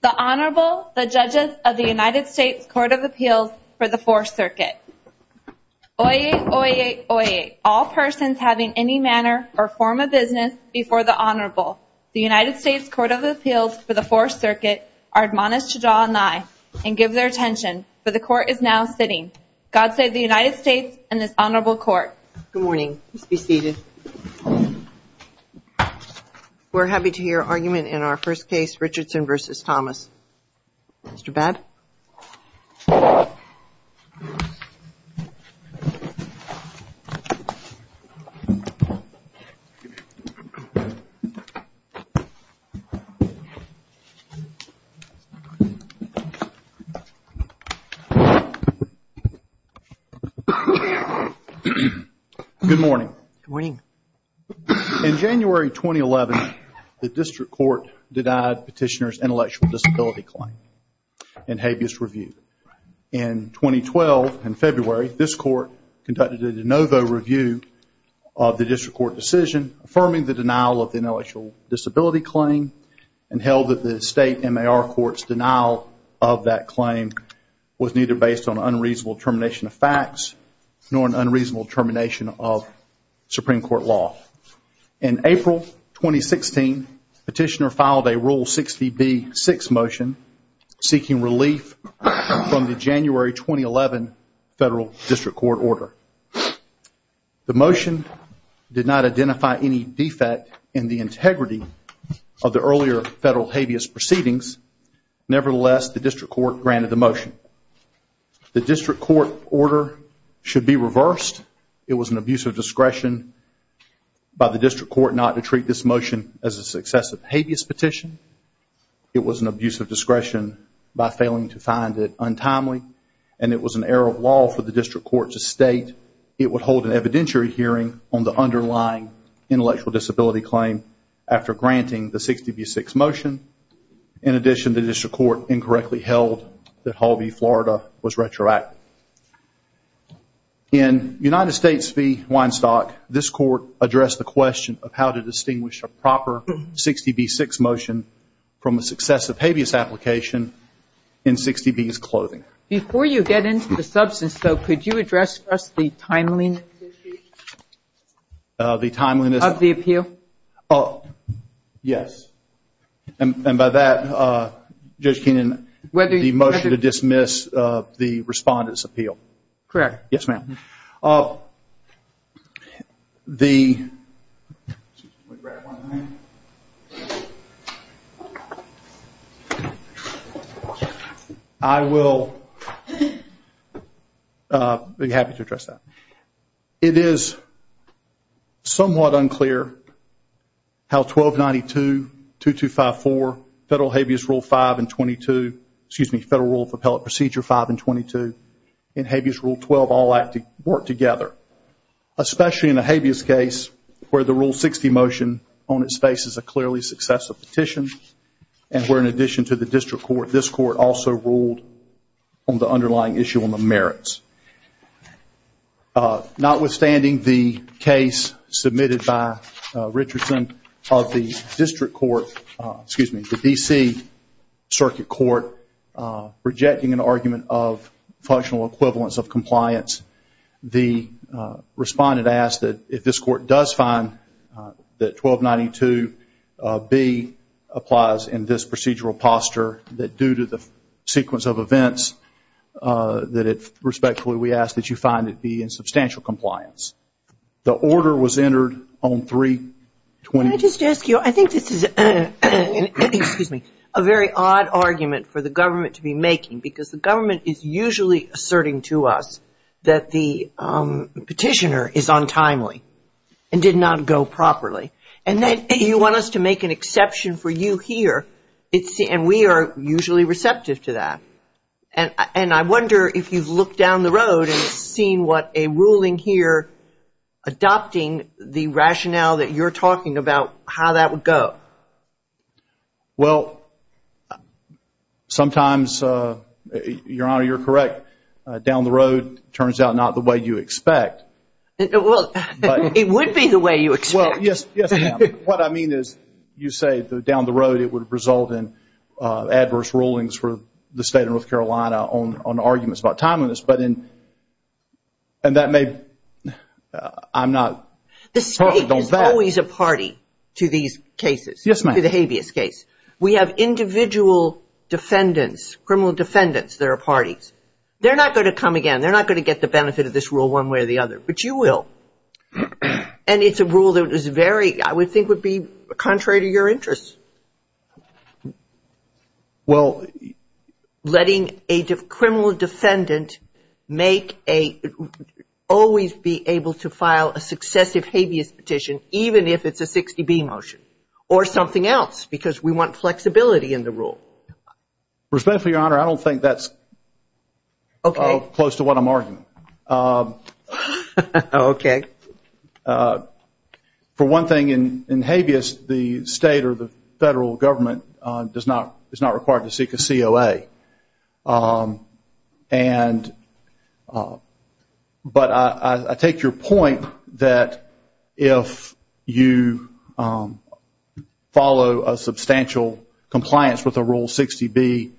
The Honorable, the Judges of the United States Court of Appeals for the Fourth Circuit. Oyez, oyez, oyez, all persons having any manner or form of business before the Honorable, the United States Court of Appeals for the Fourth Circuit, are admonished to draw an eye and give their attention, for the Court is now sitting. God save the United States and this Honorable Court. Good morning. Please be seated. We're happy to hear argument in our first case, Richardson v. Thomas. Mr. Babb. Good morning. Good morning. In January 2011, the District Court denied petitioner's intellectual disability claim in habeas review. In 2012, in February, this Court conducted a de novo review of the District Court decision affirming the denial of the intellectual disability claim and held that the State MAR Court's denial of that claim was neither based on unreasonable termination of facts nor an unreasonable termination of Supreme Court law. In April 2016, petitioner filed a Rule 60B-6 motion seeking relief from the January 2011 Federal District Court order. The motion did not identify any defect in the integrity of the earlier Federal habeas proceedings. Nevertheless, the District Court granted the motion. The District Court order should be reversed. It was an abuse of discretion by the District Court not to treat this motion as a successive habeas petition. It was an abuse of discretion by failing to find it untimely and it was an error of law for the District Court to state it would hold an evidentiary hearing on the underlying intellectual disability claim after granting the 60B-6 motion. In addition, the District Court incorrectly held that Hall v. Florida was retroactive. In United States v. Weinstock, this Court addressed the question of how to distinguish a proper 60B-6 motion from a successive habeas application in 60B's clothing. Before you get into the substance, though, could you address for us the timeliness issue? The timeliness of the appeal? Yes. And by that, Judge Keenan, the motion to dismiss the respondent's appeal. Correct. Yes, ma'am. I will be happy to address that. It is somewhat unclear how 1292-2254, Federal Rule of Appellate Procedure 5 and 22, and Habeas Rule 12 all work together, especially in a habeas case where the Rule 60 motion on its face is a clearly successive petition and where in addition to the District Court, this Court also ruled on the underlying issue on the merits. Notwithstanding the case submitted by Richardson of the District Court, excuse me, the D.C. Circuit Court, rejecting an argument of functional equivalence of compliance, the respondent does find that 1292-B applies in this procedural posture, that due to the sequence of events, that it respectfully we ask that you find it be in substantial compliance. The order was entered on 3- Can I just ask you, I think this is a very odd argument for the government to be making, because the government is usually asserting to us that the petitioner is untimely and did not go properly. And then you want us to make an exception for you here, and we are usually receptive to that. And I wonder if you've looked down the road and seen what a ruling here adopting the rationale that you're talking about, how that would go. Well, sometimes, Your Honor, you're correct. Down the road, it turns out not the way you expect. Well, it would be the way you expect. Yes, ma'am. What I mean is you say down the road it would result in adverse rulings for the state of North Carolina on arguments about timeliness. And that may, I'm not perfect on that. There is always a party to these cases, to the habeas case. We have individual defendants, criminal defendants that are parties. They're not going to come again. They're not going to get the benefit of this rule one way or the other. But you will. And it's a rule that is very, I would think, would be contrary to your interests. Well, letting a criminal defendant make a, always be able to file a successive habeas petition even if it's a 60B motion or something else because we want flexibility in the rule. Respectfully, Your Honor, I don't think that's close to what I'm arguing. For one thing, in habeas, the state or the federal government is not required to seek a COA. And, but I take your point that if you follow a substantial compliance with a rule 60B,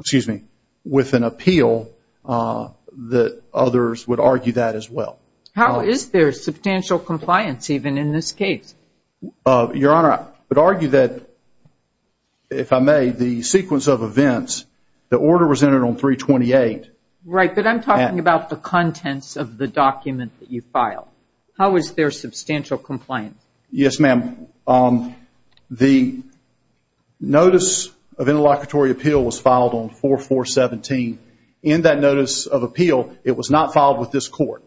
excuse me, with an appeal, that others would argue that as well. How is there substantial compliance even in this case? Your Honor, I would argue that, if I may, the sequence of events, the order was entered on 328. Right, but I'm talking about the contents of the document that you filed. How is there substantial compliance? Yes, ma'am. The notice of interlocutory appeal was filed on 4417. In that notice of appeal, it was not filed with this court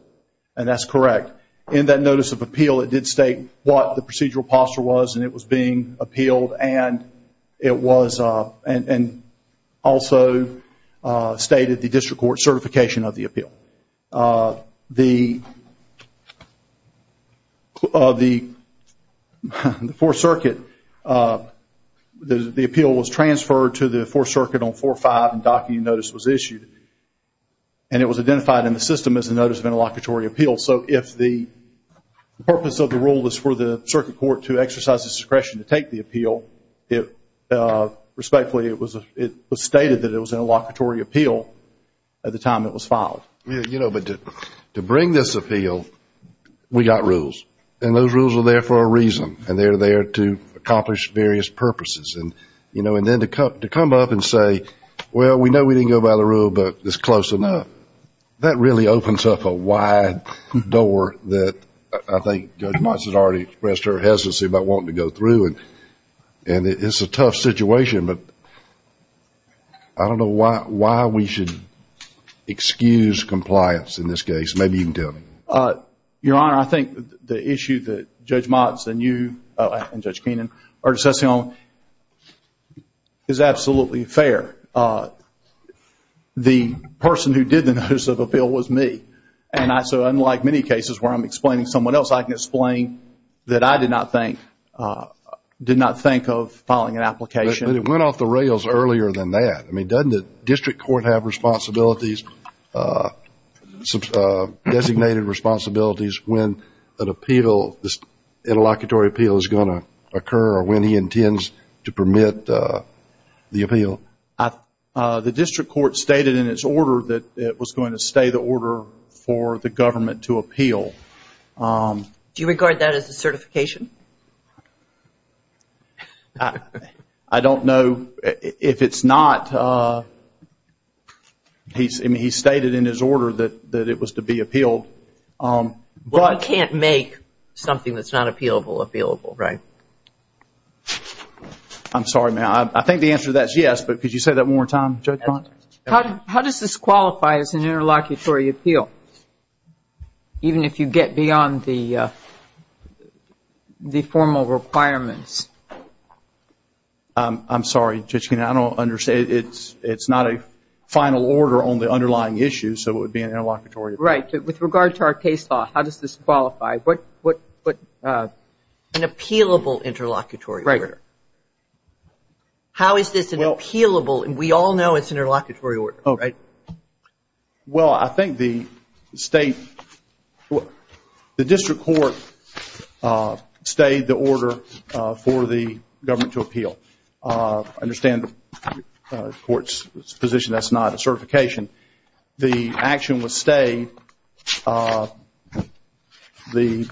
and that's correct. In that notice of appeal, it did state what the procedural posture was and it was being appealed and also stated the district court certification of the appeal. The Fourth Circuit, the appeal was transferred to the Fourth Circuit on 4-5 and docking notice was issued and it was identified in the system as a notice of interlocutory appeal. So if the purpose of the rule was for the circuit court to exercise its discretion to take the appeal, respectfully, it was stated that it was an interlocutory appeal at the time it was filed. You know, but to bring this appeal, we got rules and those rules are there for a reason and they're there to accomplish various purposes and, you know, and then to come up and say, well, we know we didn't go by the rule, but it's close enough. That really opens up a wide door that I think Judge Mots has already expressed her hesitancy about wanting to go through and it's a tough situation, but I don't know why we should excuse compliance in this case. Maybe you can tell me. Your Honor, I think the issue that Judge Mots and you and Judge Keenan are discussing is absolutely fair. The person who did the notice of appeal was me. And so unlike many cases where I'm explaining someone else, I can explain that I did not think of filing an application. But it went off the rails earlier than that. I mean, doesn't the district court have responsibilities, designated responsibilities when an appeal, this interlocutory appeal is going to occur or when he intends to permit the appeal? The district court stated in its order that it was going to stay the order for the government to appeal. Do you regard that as a certification? I don't know if it's not. He stated in his order that it was to be appealed. Well, you can't make something that's not appealable, appealable. I'm sorry, ma'am. I think the answer to that is yes, but could you say that one more time, Judge Mots? How does this qualify as an interlocutory appeal? Even if you get beyond the formal requirements? I'm sorry, Judge Keenan. I don't understand. It's not a final order on the underlying issue, so it would be an interlocutory appeal. With regard to our case law, how does this qualify? An appealable interlocutory order. How is this an appealable, we all know it's an interlocutory order. Well, I think the district court stayed the order for the government to appeal. The action was stayed. The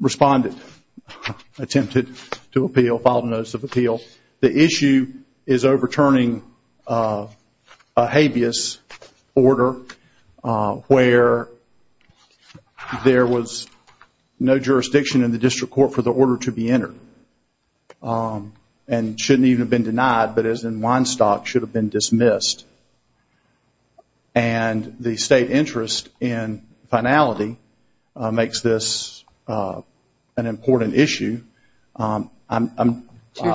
respondent attempted to appeal, filed a notice of appeal. The issue is overturning a habeas order where there was no jurisdiction in the district court for the order to be entered. And it shouldn't even have been denied, but as in Weinstock, it should have been dismissed. And the state interest in finality makes this an important issue. Do you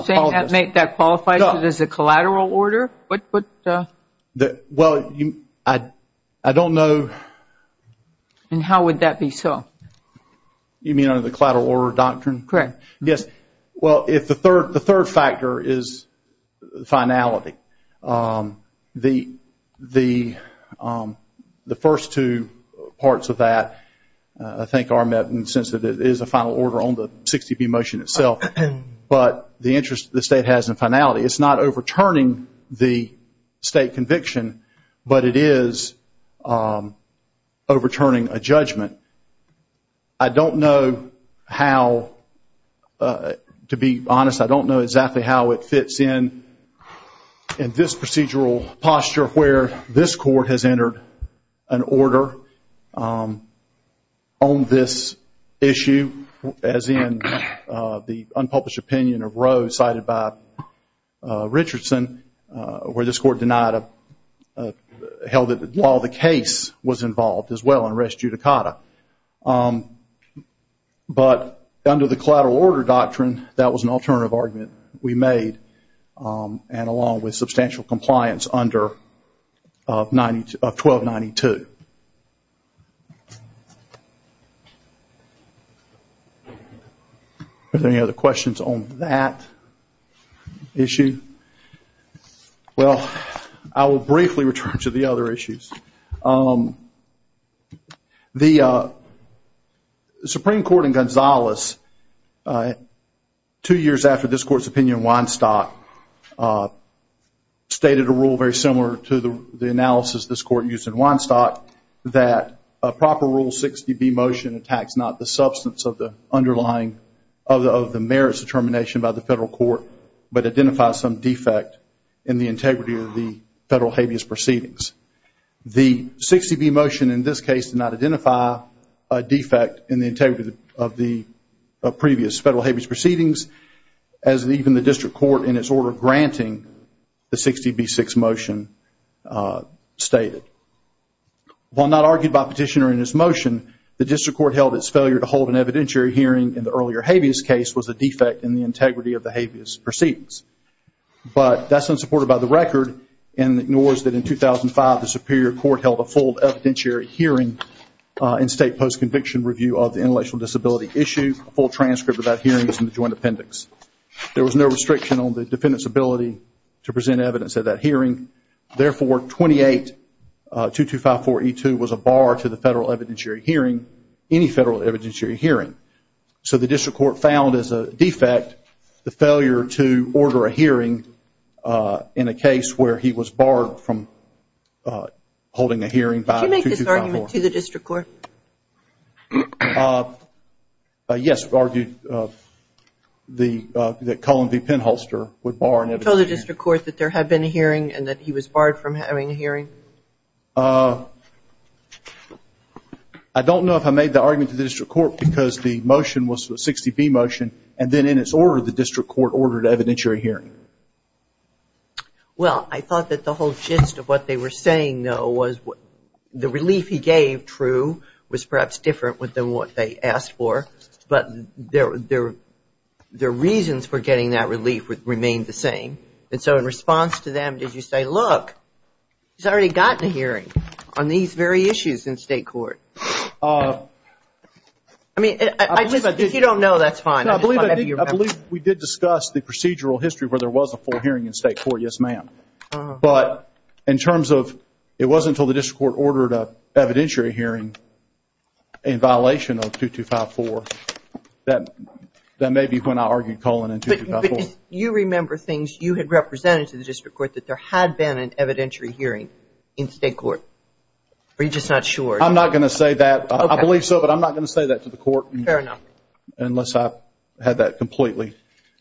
think that qualifies as a collateral order? Well, I don't know. And how would that be so? You mean under the collateral order doctrine? Correct. Well, the third factor is finality. The first two parts of that, I think, are met in the sense that it is a final order on the 60B motion itself. But the interest the state has in finality, it's not overturning the state conviction, but it is overturning a judgment. I don't know how, to be honest, I don't know exactly how it fits in in this procedural posture where this court has entered an order on this issue, as in the unpublished opinion of Roe cited by Richardson, where this court held that while the case was involved as well in res judicata. But under the collateral order doctrine, that was an alternative argument we made, and along with substantial compliance under 1292. Are there any other questions on that issue? Well, I will briefly return to the other issues. The Supreme Court in Gonzales, two years after this court's opinion in Weinstock, stated a rule very similar to the analysis this court used in Weinstock, that a proper rule 60B motion attacks not the substance of the underlying, of the merits determination by the federal court, but identifies some defect in the integrity of the federal habeas proceedings. The 60B motion in this case did not identify a defect in the integrity of the previous federal habeas proceedings, as even the district court in its order granting the 60B6 motion stated. While not argued by petitioner in this motion, the district court held its failure to hold an evidentiary hearing in the earlier habeas case was a defect in the integrity of the habeas proceedings. But that's unsupported by the record, and ignores that in 2005, the Superior Court held a full evidentiary hearing in state post-conviction review of the intellectual disability issue, a full transcript of that hearing is in the joint appendix. There was no restriction on the defendant's ability to present evidence at that hearing. Therefore, 28-2254E2 was a bar to the federal evidentiary hearing, any federal evidentiary hearing. So the district court found as a defect the failure to order a hearing in a case where he was barred from holding a hearing by 2254. Did you make this argument to the district court? Yes, argued that Cullen v. Penholster would bar an evidentiary hearing. You told the district court that there had been a hearing and that he was barred from having a hearing? I don't know if I made the argument to the district court, because the motion was a 60B motion, and then in its order, the district court ordered an evidentiary hearing. Well, I thought that the whole gist of what they were saying, though, was the relief he gave, true, was perhaps different than what they asked for, but their reasons for getting that relief remained the same. And so in response to them, did you say, look, he's already gotten a hearing on these very issues in state court? If you don't know, that's fine. I believe we did discuss the procedural history where there was a full hearing in state court, yes, ma'am. But in terms of, it wasn't until the district court ordered an evidentiary hearing in violation of 2254, that may be when I argued Cullen in 2254. But you remember things you had represented to the district court that there had been an evidentiary hearing in state court, or are you just not sure? I'm not going to say that. I believe so, but I'm not going to say that to the court. Fair enough. Unless I had that completely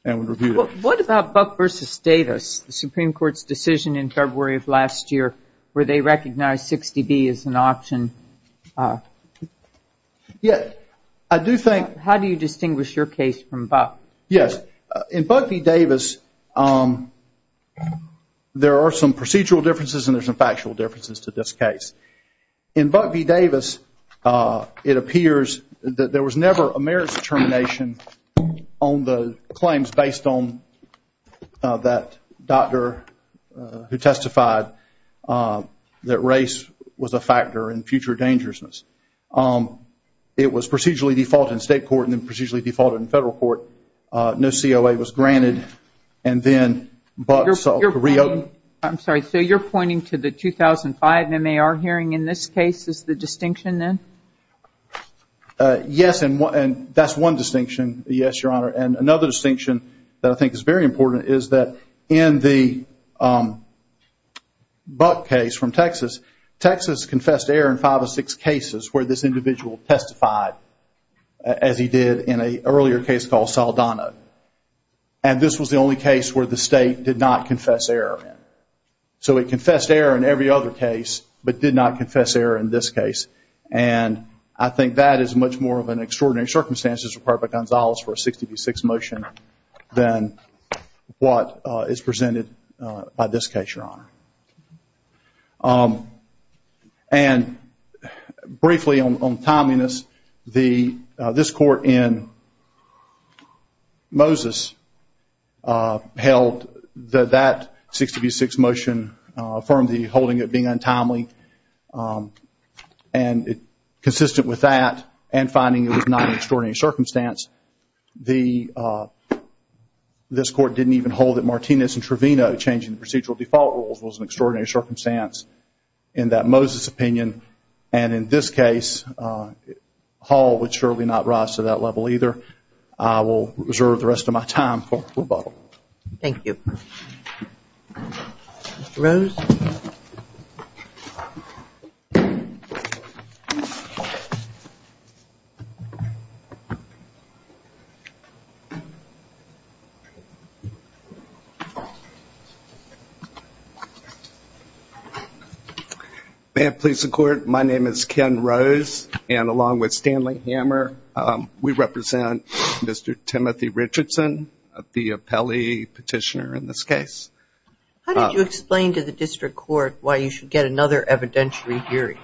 and would review it. What about Buck v. Davis, the Supreme Court's decision in February of last year, where they recognized 60B as an option? How do you distinguish your case from Buck? Yes. In Buck v. Davis, there are some procedural differences and there are some factual differences to this case. In Buck v. Davis, it appears that there was never a merits determination on the claims based on that doctor who testified that race was a factor in future dangerousness. It was procedurally defaulted in state court and then procedurally defaulted in federal court. No COA was granted. And then Buck v. Davis. I'm sorry, so you're pointing to the 2005 MAR hearing in this case. Is the distinction then? Yes, and that's one distinction, yes, Your Honor. And another distinction that I think is very important is that in the Buck case from Texas, Texas confessed error in five or six cases where this individual testified, as he did in an earlier case called Saldana. And this was the only case where the state did not confess error in. So he confessed error in every other case, but did not confess error in this case. And I think that is much more of an extraordinary circumstance as required by Gonzalez for a 60B6 motion than what is presented by this case, Your Honor. And briefly on timeliness, this court in Moses held that 60B6 motion affirmed the holding of it being untimely and consistent with that and finding it was not an extraordinary circumstance. This court didn't even hold that Martinez and Trevino changing the procedural default rules was an extraordinary circumstance in that Moses opinion and in this case Hall would surely not rise to that level either. I will reserve the rest of my time for rebuttal. Thank you. Mr. Rose? May it please the court, my name is Ken Rose and along with Stanley Hammer, we represent Mr. Timothy Richardson, the appellee petitioner in this case. How did you explain to the district court why you should get another evidentiary hearing?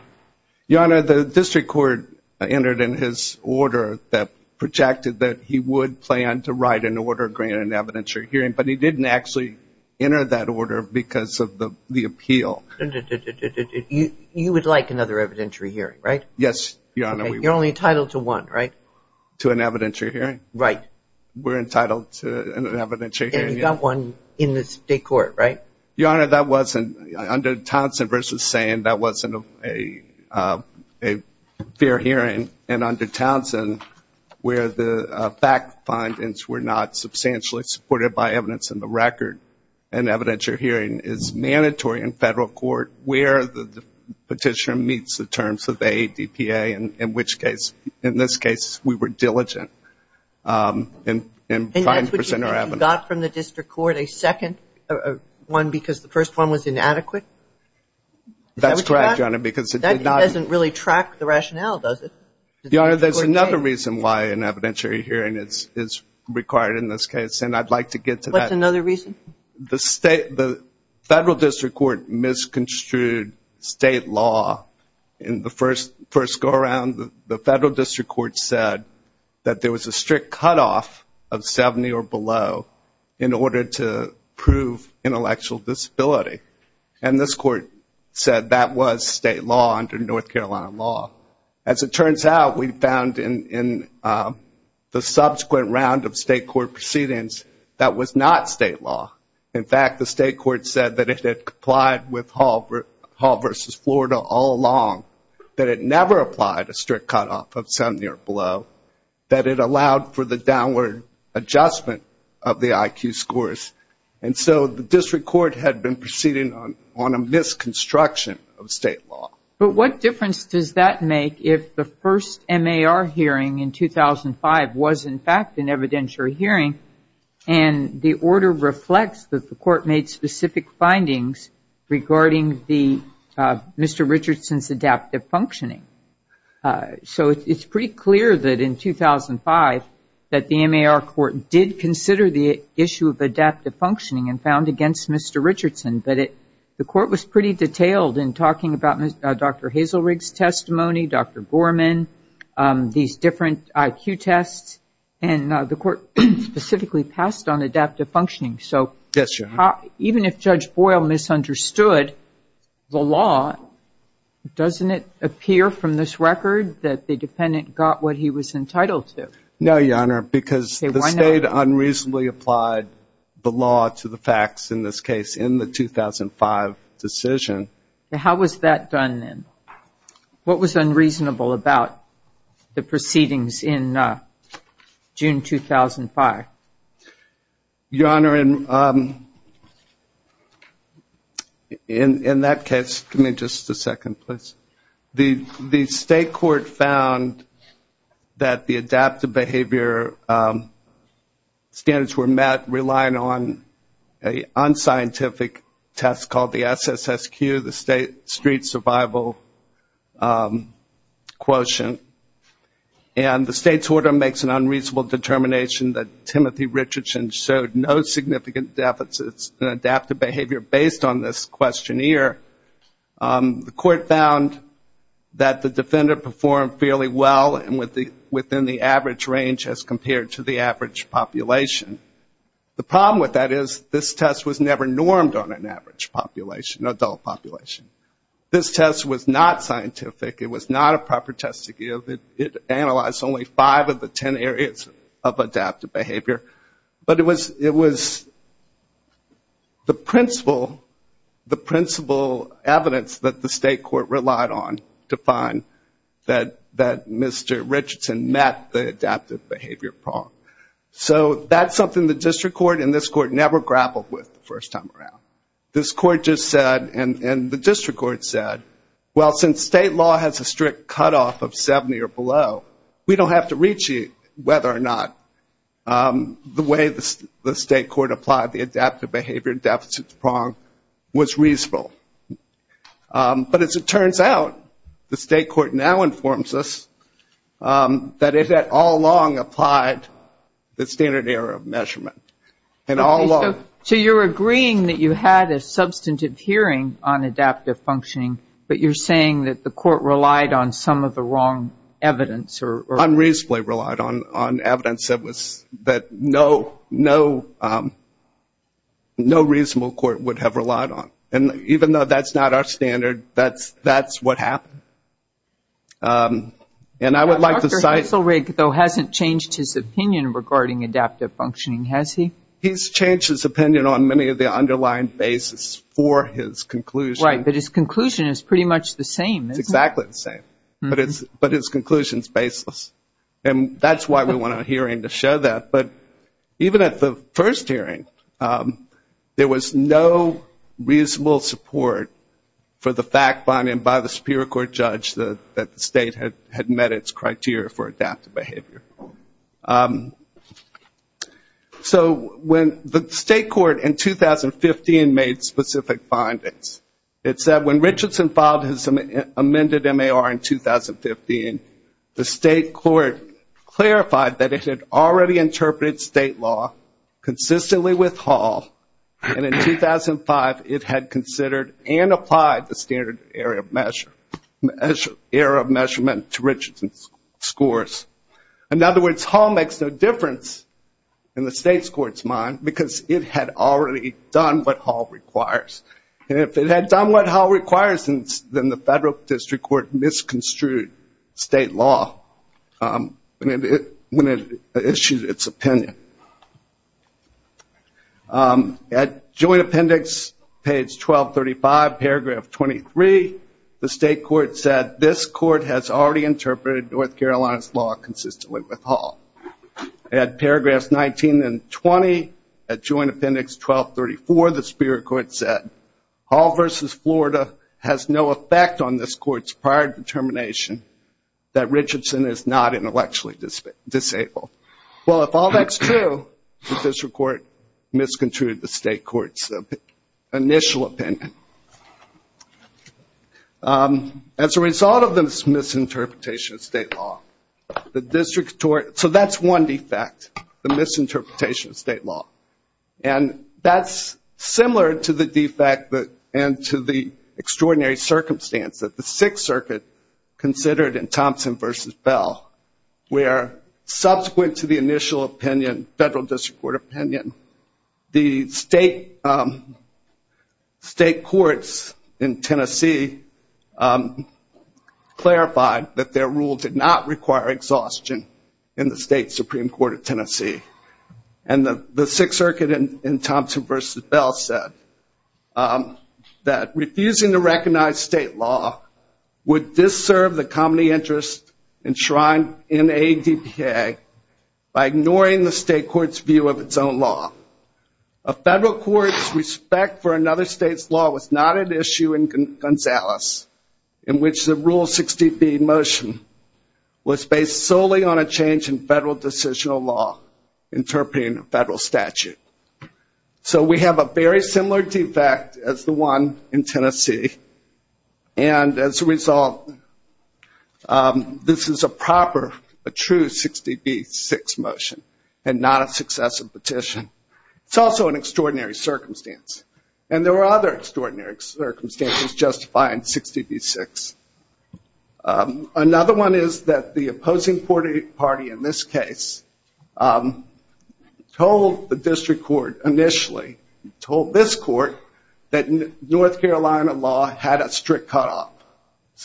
Your Honor, the district court entered in his order that projected that he would plan to write an order granting an evidentiary hearing, but he didn't actually enter that order because of the appeal. You would like another evidentiary hearing, right? Yes, Your Honor. You're only entitled to one, right? To an evidentiary hearing? Right. We're entitled to an evidentiary hearing. And you got one in the state court, right? Your Honor, that wasn't, under Townsend versus Sands, that wasn't a fair hearing. And under Townsend, where the fact findings were not substantially supported by evidence in the record, an evidentiary hearing is mandatory in federal court where the petitioner meets the terms of the ADPA, in which the petitioner meets the terms of the ADPA, and the petitioner meets the terms of the ADPA. Does that make the district court a second one because the first one was inadequate? That's correct, Your Honor, because it did not... That doesn't really track the rationale, does it? Your Honor, there's another reason why an evidentiary hearing is required in this case, and I'd like to get to that. The federal district court misconstrued state law in the first go-around. The federal district court said that there was a strict cutoff of 70 or below in order to prove intellectual disability. And this court said that was state law under North Carolina law. As it turns out, we found in the subsequent round of state court proceedings that was not state law. In fact, the state court said that it had complied with Hall v. Florida all along, that it never applied a strict cutoff of 70 or below, that it allowed for the downward adjustment of the IQ scores. And so the district court had been proceeding on a misconstruction of state law. But what difference does that make if the first MAR hearing in 2005 was, in fact, an evidentiary hearing, and the order reflects that the court made specific findings regarding Mr. Richardson's adaptive functioning. So it's pretty clear that in 2005 that the MAR court did pretty detailed in talking about Dr. Hazelrig's testimony, Dr. Gorman, these different IQ tests. And the court specifically passed on adaptive functioning. So even if Judge Boyle misunderstood the law, doesn't it appear from this record that the defendant got what he was entitled to? No, Your Honor, because the state unreasonably applied the law to the facts in this case in the 2005 decision. How was that done then? What was unreasonable about the proceedings in June 2005? Your Honor, in that case, give me just a second, please. The state court found that the adaptive behavior standards were met relying on an unscientific test called the SSSQ, the State Street Survival Quotient. And the state's order makes an unreasonable determination that Timothy Richardson showed no significant deficits in adaptive behavior based on this questionnaire. The court found that the defender performed fairly well and within the average range as compared to the average population. The problem with that is this test was never normed on an average population, adult population. This test was not scientific. It was not a proper test to give. It analyzed only five of the ten areas of adaptive behavior. But it was the principal evidence that the state court relied on to find that Mr. Richardson met the adaptive behavior problem. So that's something the district court and this court never grappled with the first time around. This court just said, and the district court said, well, since state law has a strict cutoff of 70 or below, we don't have to reach you whether or not the way the state court applied the adaptive behavior deficit prong was reasonable. But as it turns out, the state court now informs us that it had all along applied the standard error of measurement. And all along. So you're agreeing that you had a substantive hearing on adaptive functioning, but you're saying that the court relied on some of the wrong evidence? Unreasonably relied on evidence that no reasonable court would have relied on. And even though that's not our standard, that's what happened. And I would like to cite... Dr. Hitzelrig, though, hasn't changed his opinion regarding adaptive functioning, has he? He's changed his opinion on many of the underlying basis for his conclusion. Right. But his conclusion is pretty much the same. It's exactly the same. But his conclusion is baseless. And that's why we want a hearing to show that. But even at the first hearing, there was no reasonable support for the fact finding by the superior court judge that the state had met its criteria for adaptive behavior. So when the state court in 2015 made specific findings, it said when Richardson filed his amended MAR in 2015, the state court clarified that it had already interpreted state law consistently with Hall. And in 2005, it had considered and applied the standard area of measurement to Richardson's scores. In other words, Hall makes no difference in the state court's mind because it had already done what Hall requires. And if it had done what Hall requires, then the federal district court misconstrued state law when it issued its opinion. At joint appendix, page 1235, paragraph 23, the state court said this court has already interpreted North Carolina's law consistently with Hall. At paragraphs 19 and 20, at joint appendix 1234, the superior court said Hall versus Florida has no effect on this court's prior determination that Richardson is not intellectually disabled. Well, if all that's true, the district court misconstrued the state court's initial opinion. As a result of this misinterpretation of state law, the district court... So that's one defect, the misinterpretation of state law. And that's similar to the defect and to the extraordinary circumstance that the Sixth Circuit considered in Thompson versus Bell, where according to the initial opinion, federal district court opinion, the state courts in Tennessee clarified that their rule did not require exhaustion in the state supreme court of Tennessee. And the Sixth Circuit in Thompson versus Bell said that refusing to recognize state law would disserve the common interest enshrined in ADPA, and would be a breach of state law. By ignoring the state court's view of its own law. A federal court's respect for another state's law was not an issue in Gonzales, in which the rule 60B motion was based solely on a change in federal decisional law, interpreting a federal statute. So we have a very similar defect as the one in Tennessee, and as a result, this is a proper, a true 60B statute. And not a successive petition. It's also an extraordinary circumstance. And there are other extraordinary circumstances justifying 60B-6. Another one is that the opposing party in this case told the district court initially, told this court, that North Carolina law had a strict cutoff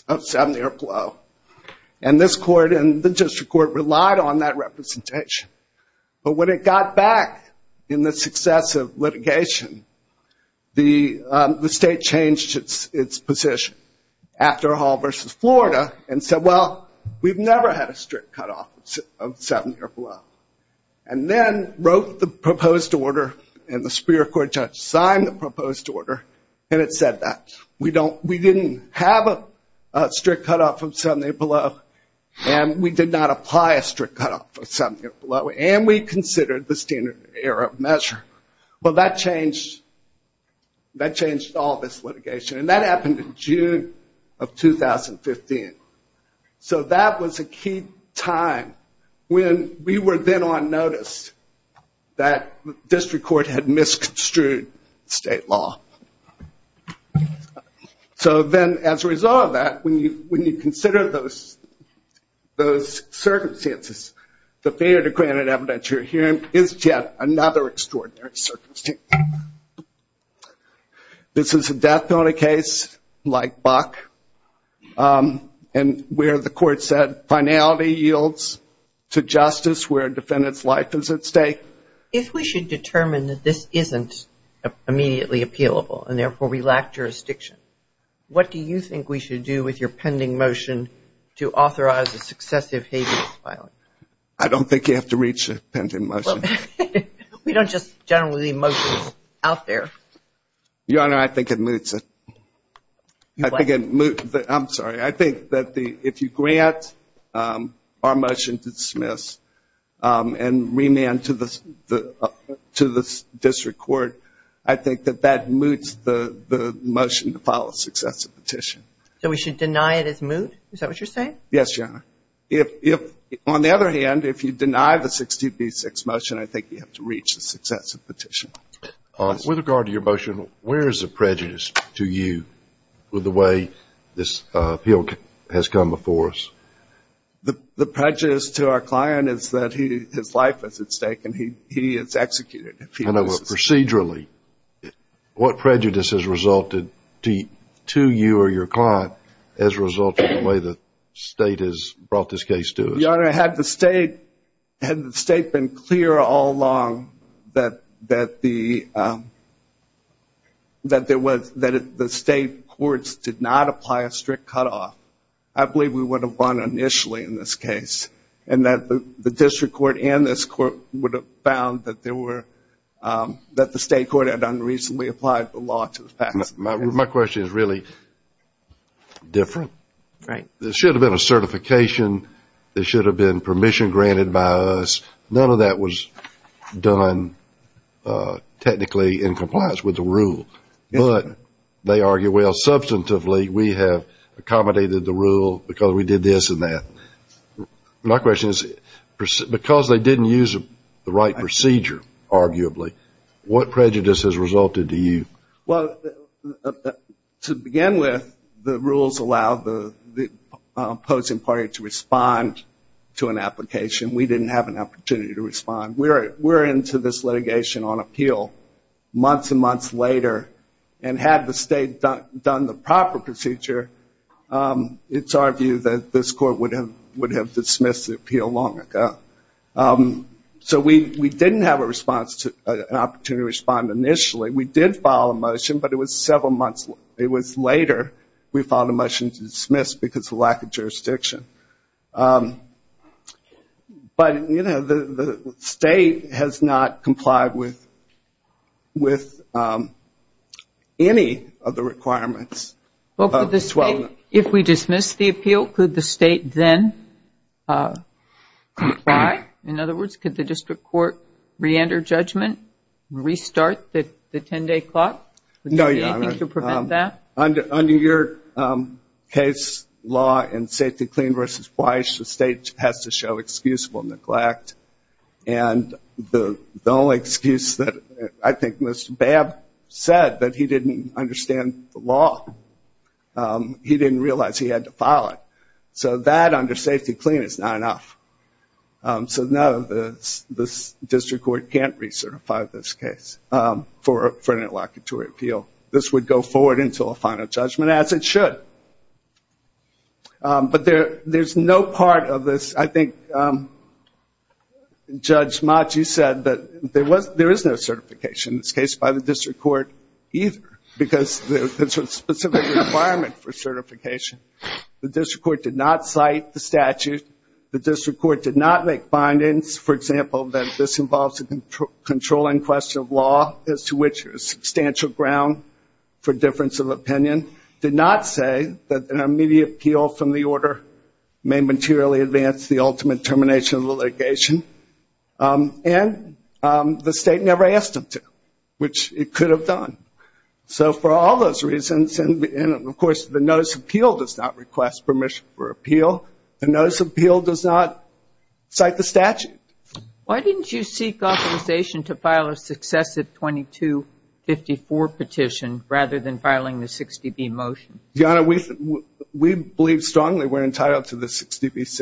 of seven-year blow. And this court and the district court relied on that representation. But when it got back in the success of litigation, the state changed its position. After Hall versus Florida, and said, well, we've never had a strict cutoff of seven-year blow. And then wrote the proposed order, and the superior court judge signed the proposed order, and it said that. We didn't have a strict cutoff of seven-year blow, and we did not apply a strict cutoff of seven-year blow, and we considered the standard error measure. Well, that changed all this litigation. And that happened in June of 2015. So that was a key time when we were then on notice that the district court had misconstrued state law. So then, as a result of that, when you consider those circumstances, the failure to grant an evidentiary hearing is yet another extraordinary circumstance. This is a death penalty case like Buck, and where the court said finality yields to justice where a defendant's life is at stake. If we should determine that this isn't immediately appealable, and therefore we lack jurisdiction, what do you think we should do with your pending motion to authorize a successive habeas filing? I don't think you have to reach a pending motion. We don't just generally leave motions out there. Your Honor, I think it moots it. I'm sorry. I think that if you grant our motion to dismiss and remand to the district court, I think that that moots the motion to file a successive petition. So we should deny it as moot? Is that what you're saying? Yes, Your Honor. On the other hand, if you deny the 60B6 motion, I think you have to reach a successive petition. With regard to your motion, where is the prejudice to you with the way this appeal has come before us? The prejudice to our client is that his life is at stake and he is executed. Procedurally, what prejudice has resulted to you or your client as a result of the way the 60B6 motion has come before us? Your Honor, had the state been clear all along that the state courts did not apply a strict cutoff, I believe we would have won initially in this case. And that the district court and this court would have found that the state court had unreasonably applied the law to the facts. My question is really different. There should have been a certification. There should have been permission granted by us. None of that was done technically in compliance with the rule. But they argue, well, substantively, we have accommodated the rule because we did this and that. My question is, because they didn't use the right procedure, arguably, what prejudice has resulted to you? To begin with, the rules allow the opposing party to respond to an application. We didn't have an opportunity to respond. We're into this litigation on appeal. Months and months later, and had the state done the proper procedure, it's our view that this court would have dismissed the appeal long ago. So we didn't have an opportunity to respond initially. We did file a motion. But it was several months later we filed a motion to dismiss because of lack of jurisdiction. But, you know, the state has not complied with any of the requirements. If we dismiss the appeal, could the state then comply? In other words, could the district court reenter judgment, restart the 10-day clock? No, Your Honor. Under your case law in Safety Clean v. Weiss, the state has to show excusable neglect. And the only excuse that I think Mr. Babb said that he didn't understand the law, he didn't realize he had to file it. So that under Safety Clean is not enough. So no, the district court can't recertify this case for an interlocutory appeal. This would go forward into a final judgment, as it should. But there's no part of this, I think Judge Maci said, that there is no certification in this case by the district court either. Because there's a specific requirement for certification. The district court did not cite the statute. The district court did not make findings, for example, that this involves a controlling question of law, as to which there is substantial ground for difference of opinion. Did not say that an immediate appeal from the order may materially advance the ultimate termination of the litigation. And the state never asked them to, which it could have done. So for all those reasons, and of course the notice of appeal does not request permission for appeal. The notice of appeal does not cite the statute. Why didn't you seek authorization to file a successive 2254 petition, rather than filing the 60B motion? Your Honor, we believe strongly we're entitled to the 60B6 relief.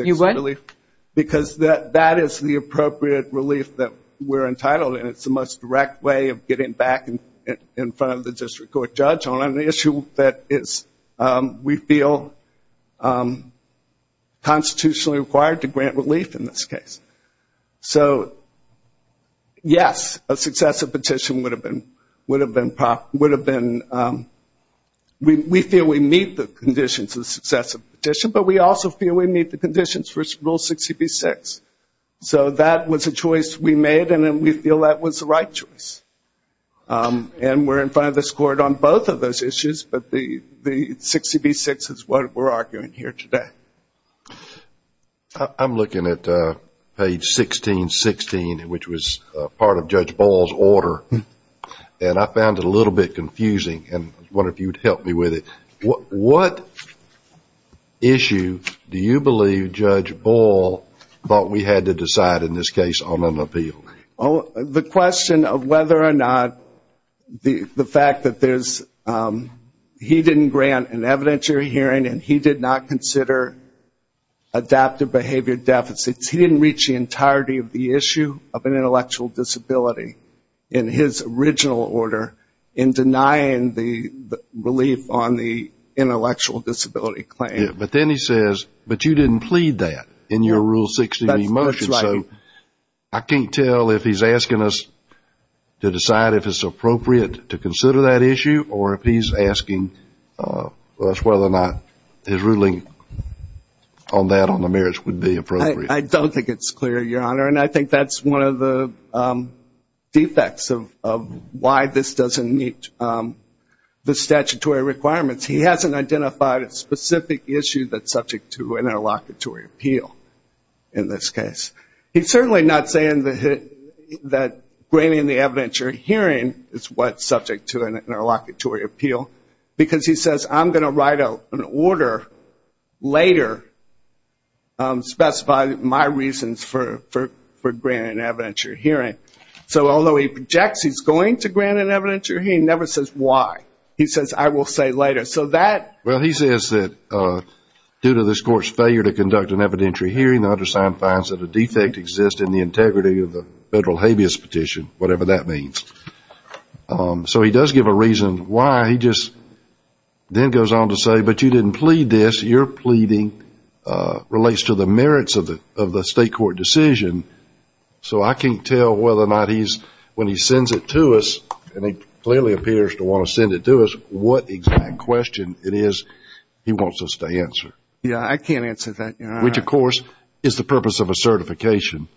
You what? That is the appropriate relief that we're entitled. And it's the most direct way of getting back in front of the district court judge on an issue that is, we feel, constitutionally required to grant relief in this case. So yes, a successive petition would have been, we feel we meet the conditions of the successive petition. But we also feel we meet the conditions for rule 60B6. So that was a choice we made, and we feel that was the right choice. And we're in front of this court on both of those issues. But the 60B6 is what we're arguing here today. I'm looking at page 1616, which was part of Judge Ball's order. And I found it a little bit confusing, and I wonder if you would help me with it. What issue do you believe Judge Ball thought we had to decide in this case on an appeal? The question of whether or not the fact that there's, he didn't grant an evidentiary hearing, and he did not consider adaptive behavior deficits. He didn't reach the entirety of the issue of an intellectual disability in his original order in denying the relief on the intellectual disability claim. But then he says, but you didn't plead that in your rule 60B motion. So I can't tell if he's asking us to decide if it's appropriate to consider that issue, or if he's asking us whether or not his ruling on that on the merits would be appropriate. I just don't think it's clear, Your Honor. And I think that's one of the defects of why this doesn't meet the statutory requirements. He hasn't identified a specific issue that's subject to an interlocutory appeal in this case. He's certainly not saying that granting the evidentiary hearing is what's subject to an interlocutory appeal, because he says, I'm going to write out an order later specifying my ruling. I have my reasons for granting an evidentiary hearing. So although he projects he's going to grant an evidentiary hearing, he never says why. He says, I will say later. Well, he says that due to this Court's failure to conduct an evidentiary hearing, the undersigned finds that a defect exists in the integrity of the federal habeas petition, whatever that means. So he does give a reason why. He just then goes on to say, but you didn't plead this. Your pleading relates to the merits of the state court decision. So I can't tell whether or not he's, when he sends it to us, and he clearly appears to want to send it to us, what exact question it is he wants us to answer. Yeah, I can't answer that, Your Honor. Which, of course, is the purpose of a certification.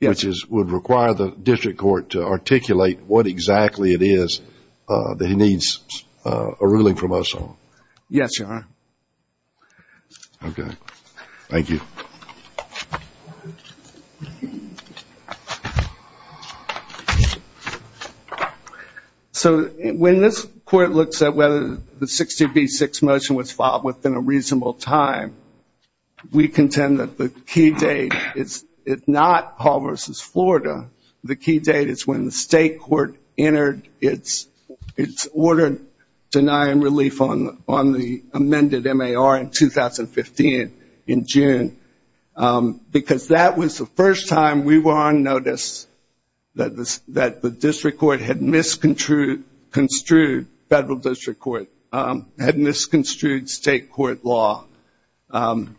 Yes. Which would require the district court to articulate what exactly it is that he needs a ruling from us on. Yes, Your Honor. Okay. Thank you. So when this court looks at whether the 60B6 motion was filed within a reasonable time, we contend that the key date is not Hall v. Florida. The key date is when the state court entered its order denying relief on the amended MAR in 2015 in June. Because that was the first time we were on notice that the district court had misconstrued federal district court, had misconstrued state court law. And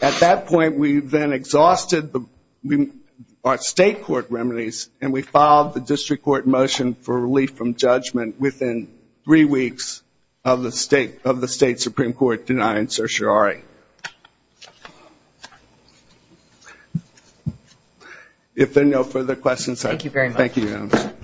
at that point we then exhausted our state court remedies, and we filed the district court motion for relief from judgment within three weeks of the state Supreme Court denying certiorari. If there are no further questions, thank you, Your Honor.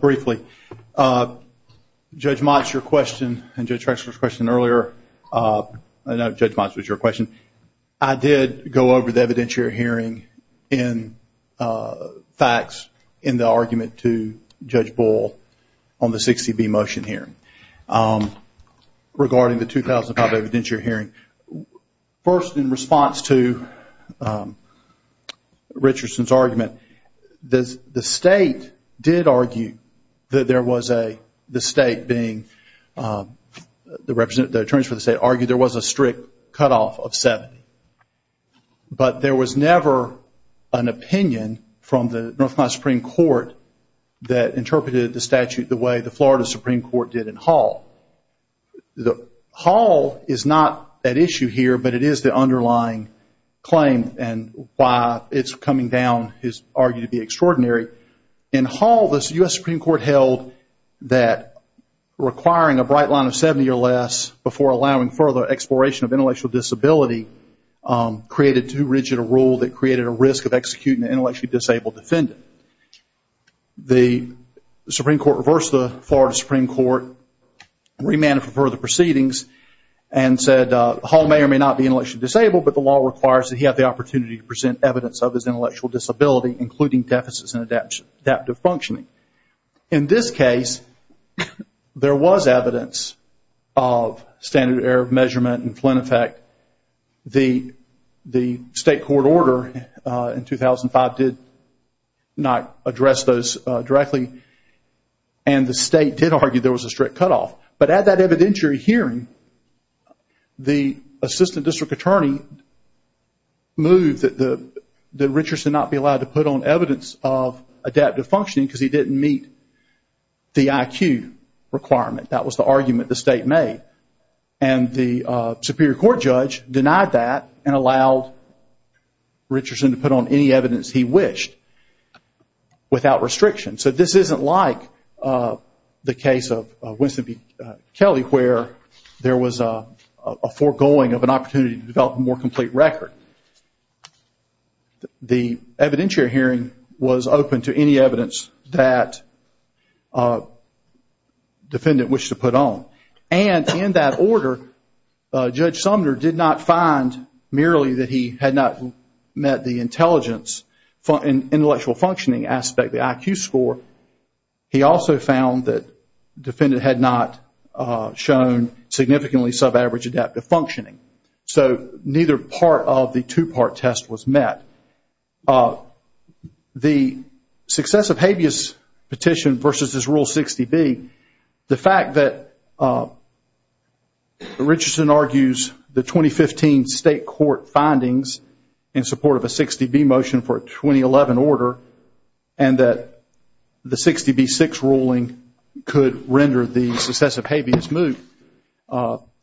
Briefly, Judge Motz, your question, and Judge Drexler's question earlier, I know Judge Motz was your question, I did go over the evidentiary hearing in the argument to Judge Bull on the 60B motion here regarding the 2005 evidentiary hearing. First, in response to Richardson's argument, the state did argue that there was a, the state being, the attorneys for the state argued there was a strict cutoff of 70. But there was never an opinion from the North Carolina Supreme Court that interpreted the statute the way the Florida Supreme Court did in Hall. Hall is not at issue here, but it is the underlying claim, and why it's coming down is argued to be extraordinary. In Hall, the U.S. Supreme Court held that requiring a bright line of 70 or less before allowing further exploration of intellectual disability, created too rigid a rule that created a risk of executing an intellectually disabled defendant. The Supreme Court reversed the Florida Supreme Court, remanded for further proceedings, and said Hall may or may not be intellectually disabled, but the law requires that he have the opportunity to present evidence of his intellectual disability, including deficits and adaptive functioning. In this case, there was evidence of standard error of measurement in Flint Effect. The state court order in 2005 did not address those directly, and the state did argue there was a strict cutoff. But at that evidentiary hearing, the assistant district attorney moved that Richardson not be allowed to put on evidence of adaptive functioning, because he didn't meet the IQ requirement. That was the argument the state made, and the Superior Court judge denied that and allowed Richardson to put on any evidence he wished, without restriction. So this isn't like the case of Winston v. Kelly, where there was a foregoing of an opportunity to develop a more complete record. The evidentiary hearing was open to any evidence that the defendant wished to present. And in that order, Judge Sumner did not find merely that he had not met the intelligence and intellectual functioning aspect, the IQ score. He also found that the defendant had not shown significantly sub-average adaptive functioning. So neither part of the two-part test was met. The success of Habeas Petition versus Rule 60B, the fact that the defendant had not met the IQ score, the fact that Richardson argues the 2015 state court findings in support of a 60B motion for a 2011 order, and that the 60B6 ruling could render the successive Habeas move,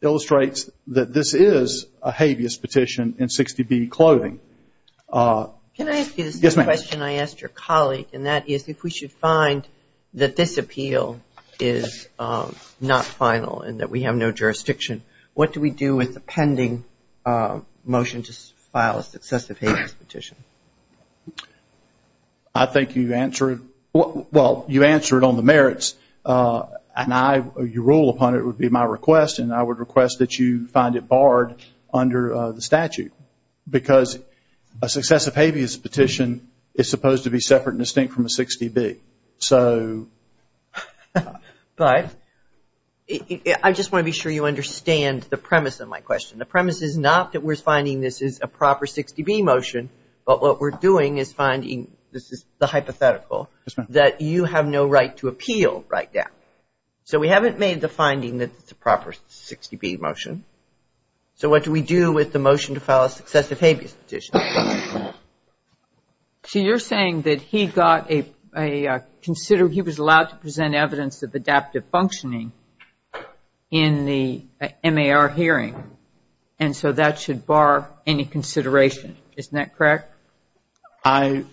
illustrates that this is a Habeas Petition in 60B clothing. Can I ask you the same question I asked your colleague, and that is, if we should find that this appeal is a Habeas Petition, not final, and that we have no jurisdiction, what do we do with the pending motion to file a successive Habeas Petition? I think you answer it on the merits. Your rule upon it would be my request, and I would request that you find it barred under the statute. Because a successive Habeas Petition is supposed to be separate and distinct from a 60B. But I just want to be sure you understand the premise of my question. The premise is not that we're finding this is a proper 60B motion, but what we're doing is finding, this is the hypothetical, that you have no right to appeal right now. So we haven't made the finding that it's a proper 60B motion. So what do we do with the motion to file a successive Habeas Petition? So you're saying that he got a, he was allowed to present evidence of adaptive functioning in the MAR hearing, and so that should bar any consideration, isn't that correct? At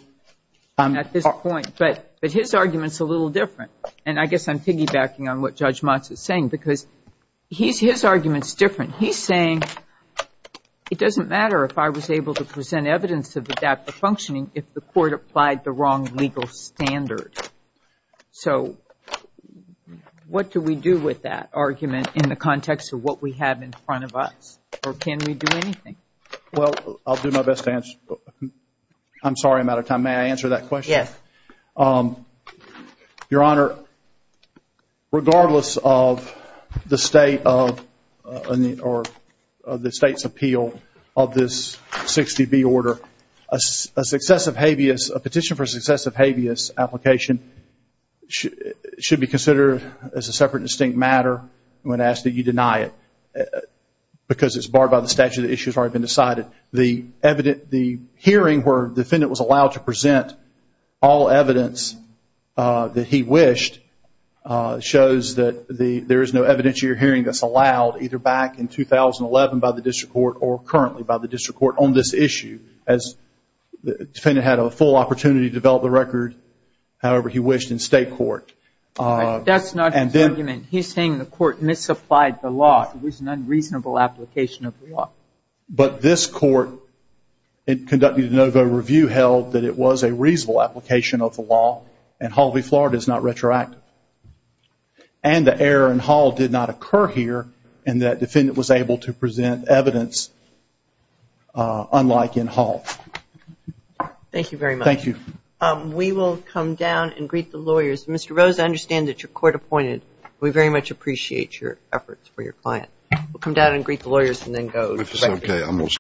this point, but his argument's a little different. And I guess I'm piggybacking on what Judge Motz is saying, because his argument's different. He's saying it doesn't matter if I was able to present evidence of adaptive functioning if the court applied the wrong legal standard. So what do we do with that argument in the context of what we have in front of us? Or can we do anything? Well, I'll do my best to answer. I'm sorry, I'm out of time. May I answer that question? Yes. Your Honor, regardless of the state of, or the state's appeal of this 60B order, a successive Habeas, a petition for a successive Habeas application should be considered as a separate and distinct matter when asked that you deny it. Because it's barred by the statute, the issue's already been decided. The hearing where the defendant was allowed to present all evidence that he wished shows that there is no evidentiary hearing that's allowed either back in 2011 by the district court or currently by the district court on this issue, as the defendant had a full opportunity to develop the record however he wished in state court. That's not his argument. He's saying the court misapplied the law. It was an unreasonable application of the law. But this court in conducting the De Novo review held that it was a reasonable application of the law and Hall v. Florida is not retroactive. And the error in Hall did not occur here in that the defendant was able to present evidence unlike in Hall. Thank you very much. We will come down and greet the lawyers. Mr. Rose, I understand that you're court appointed. We very much appreciate your efforts for your client.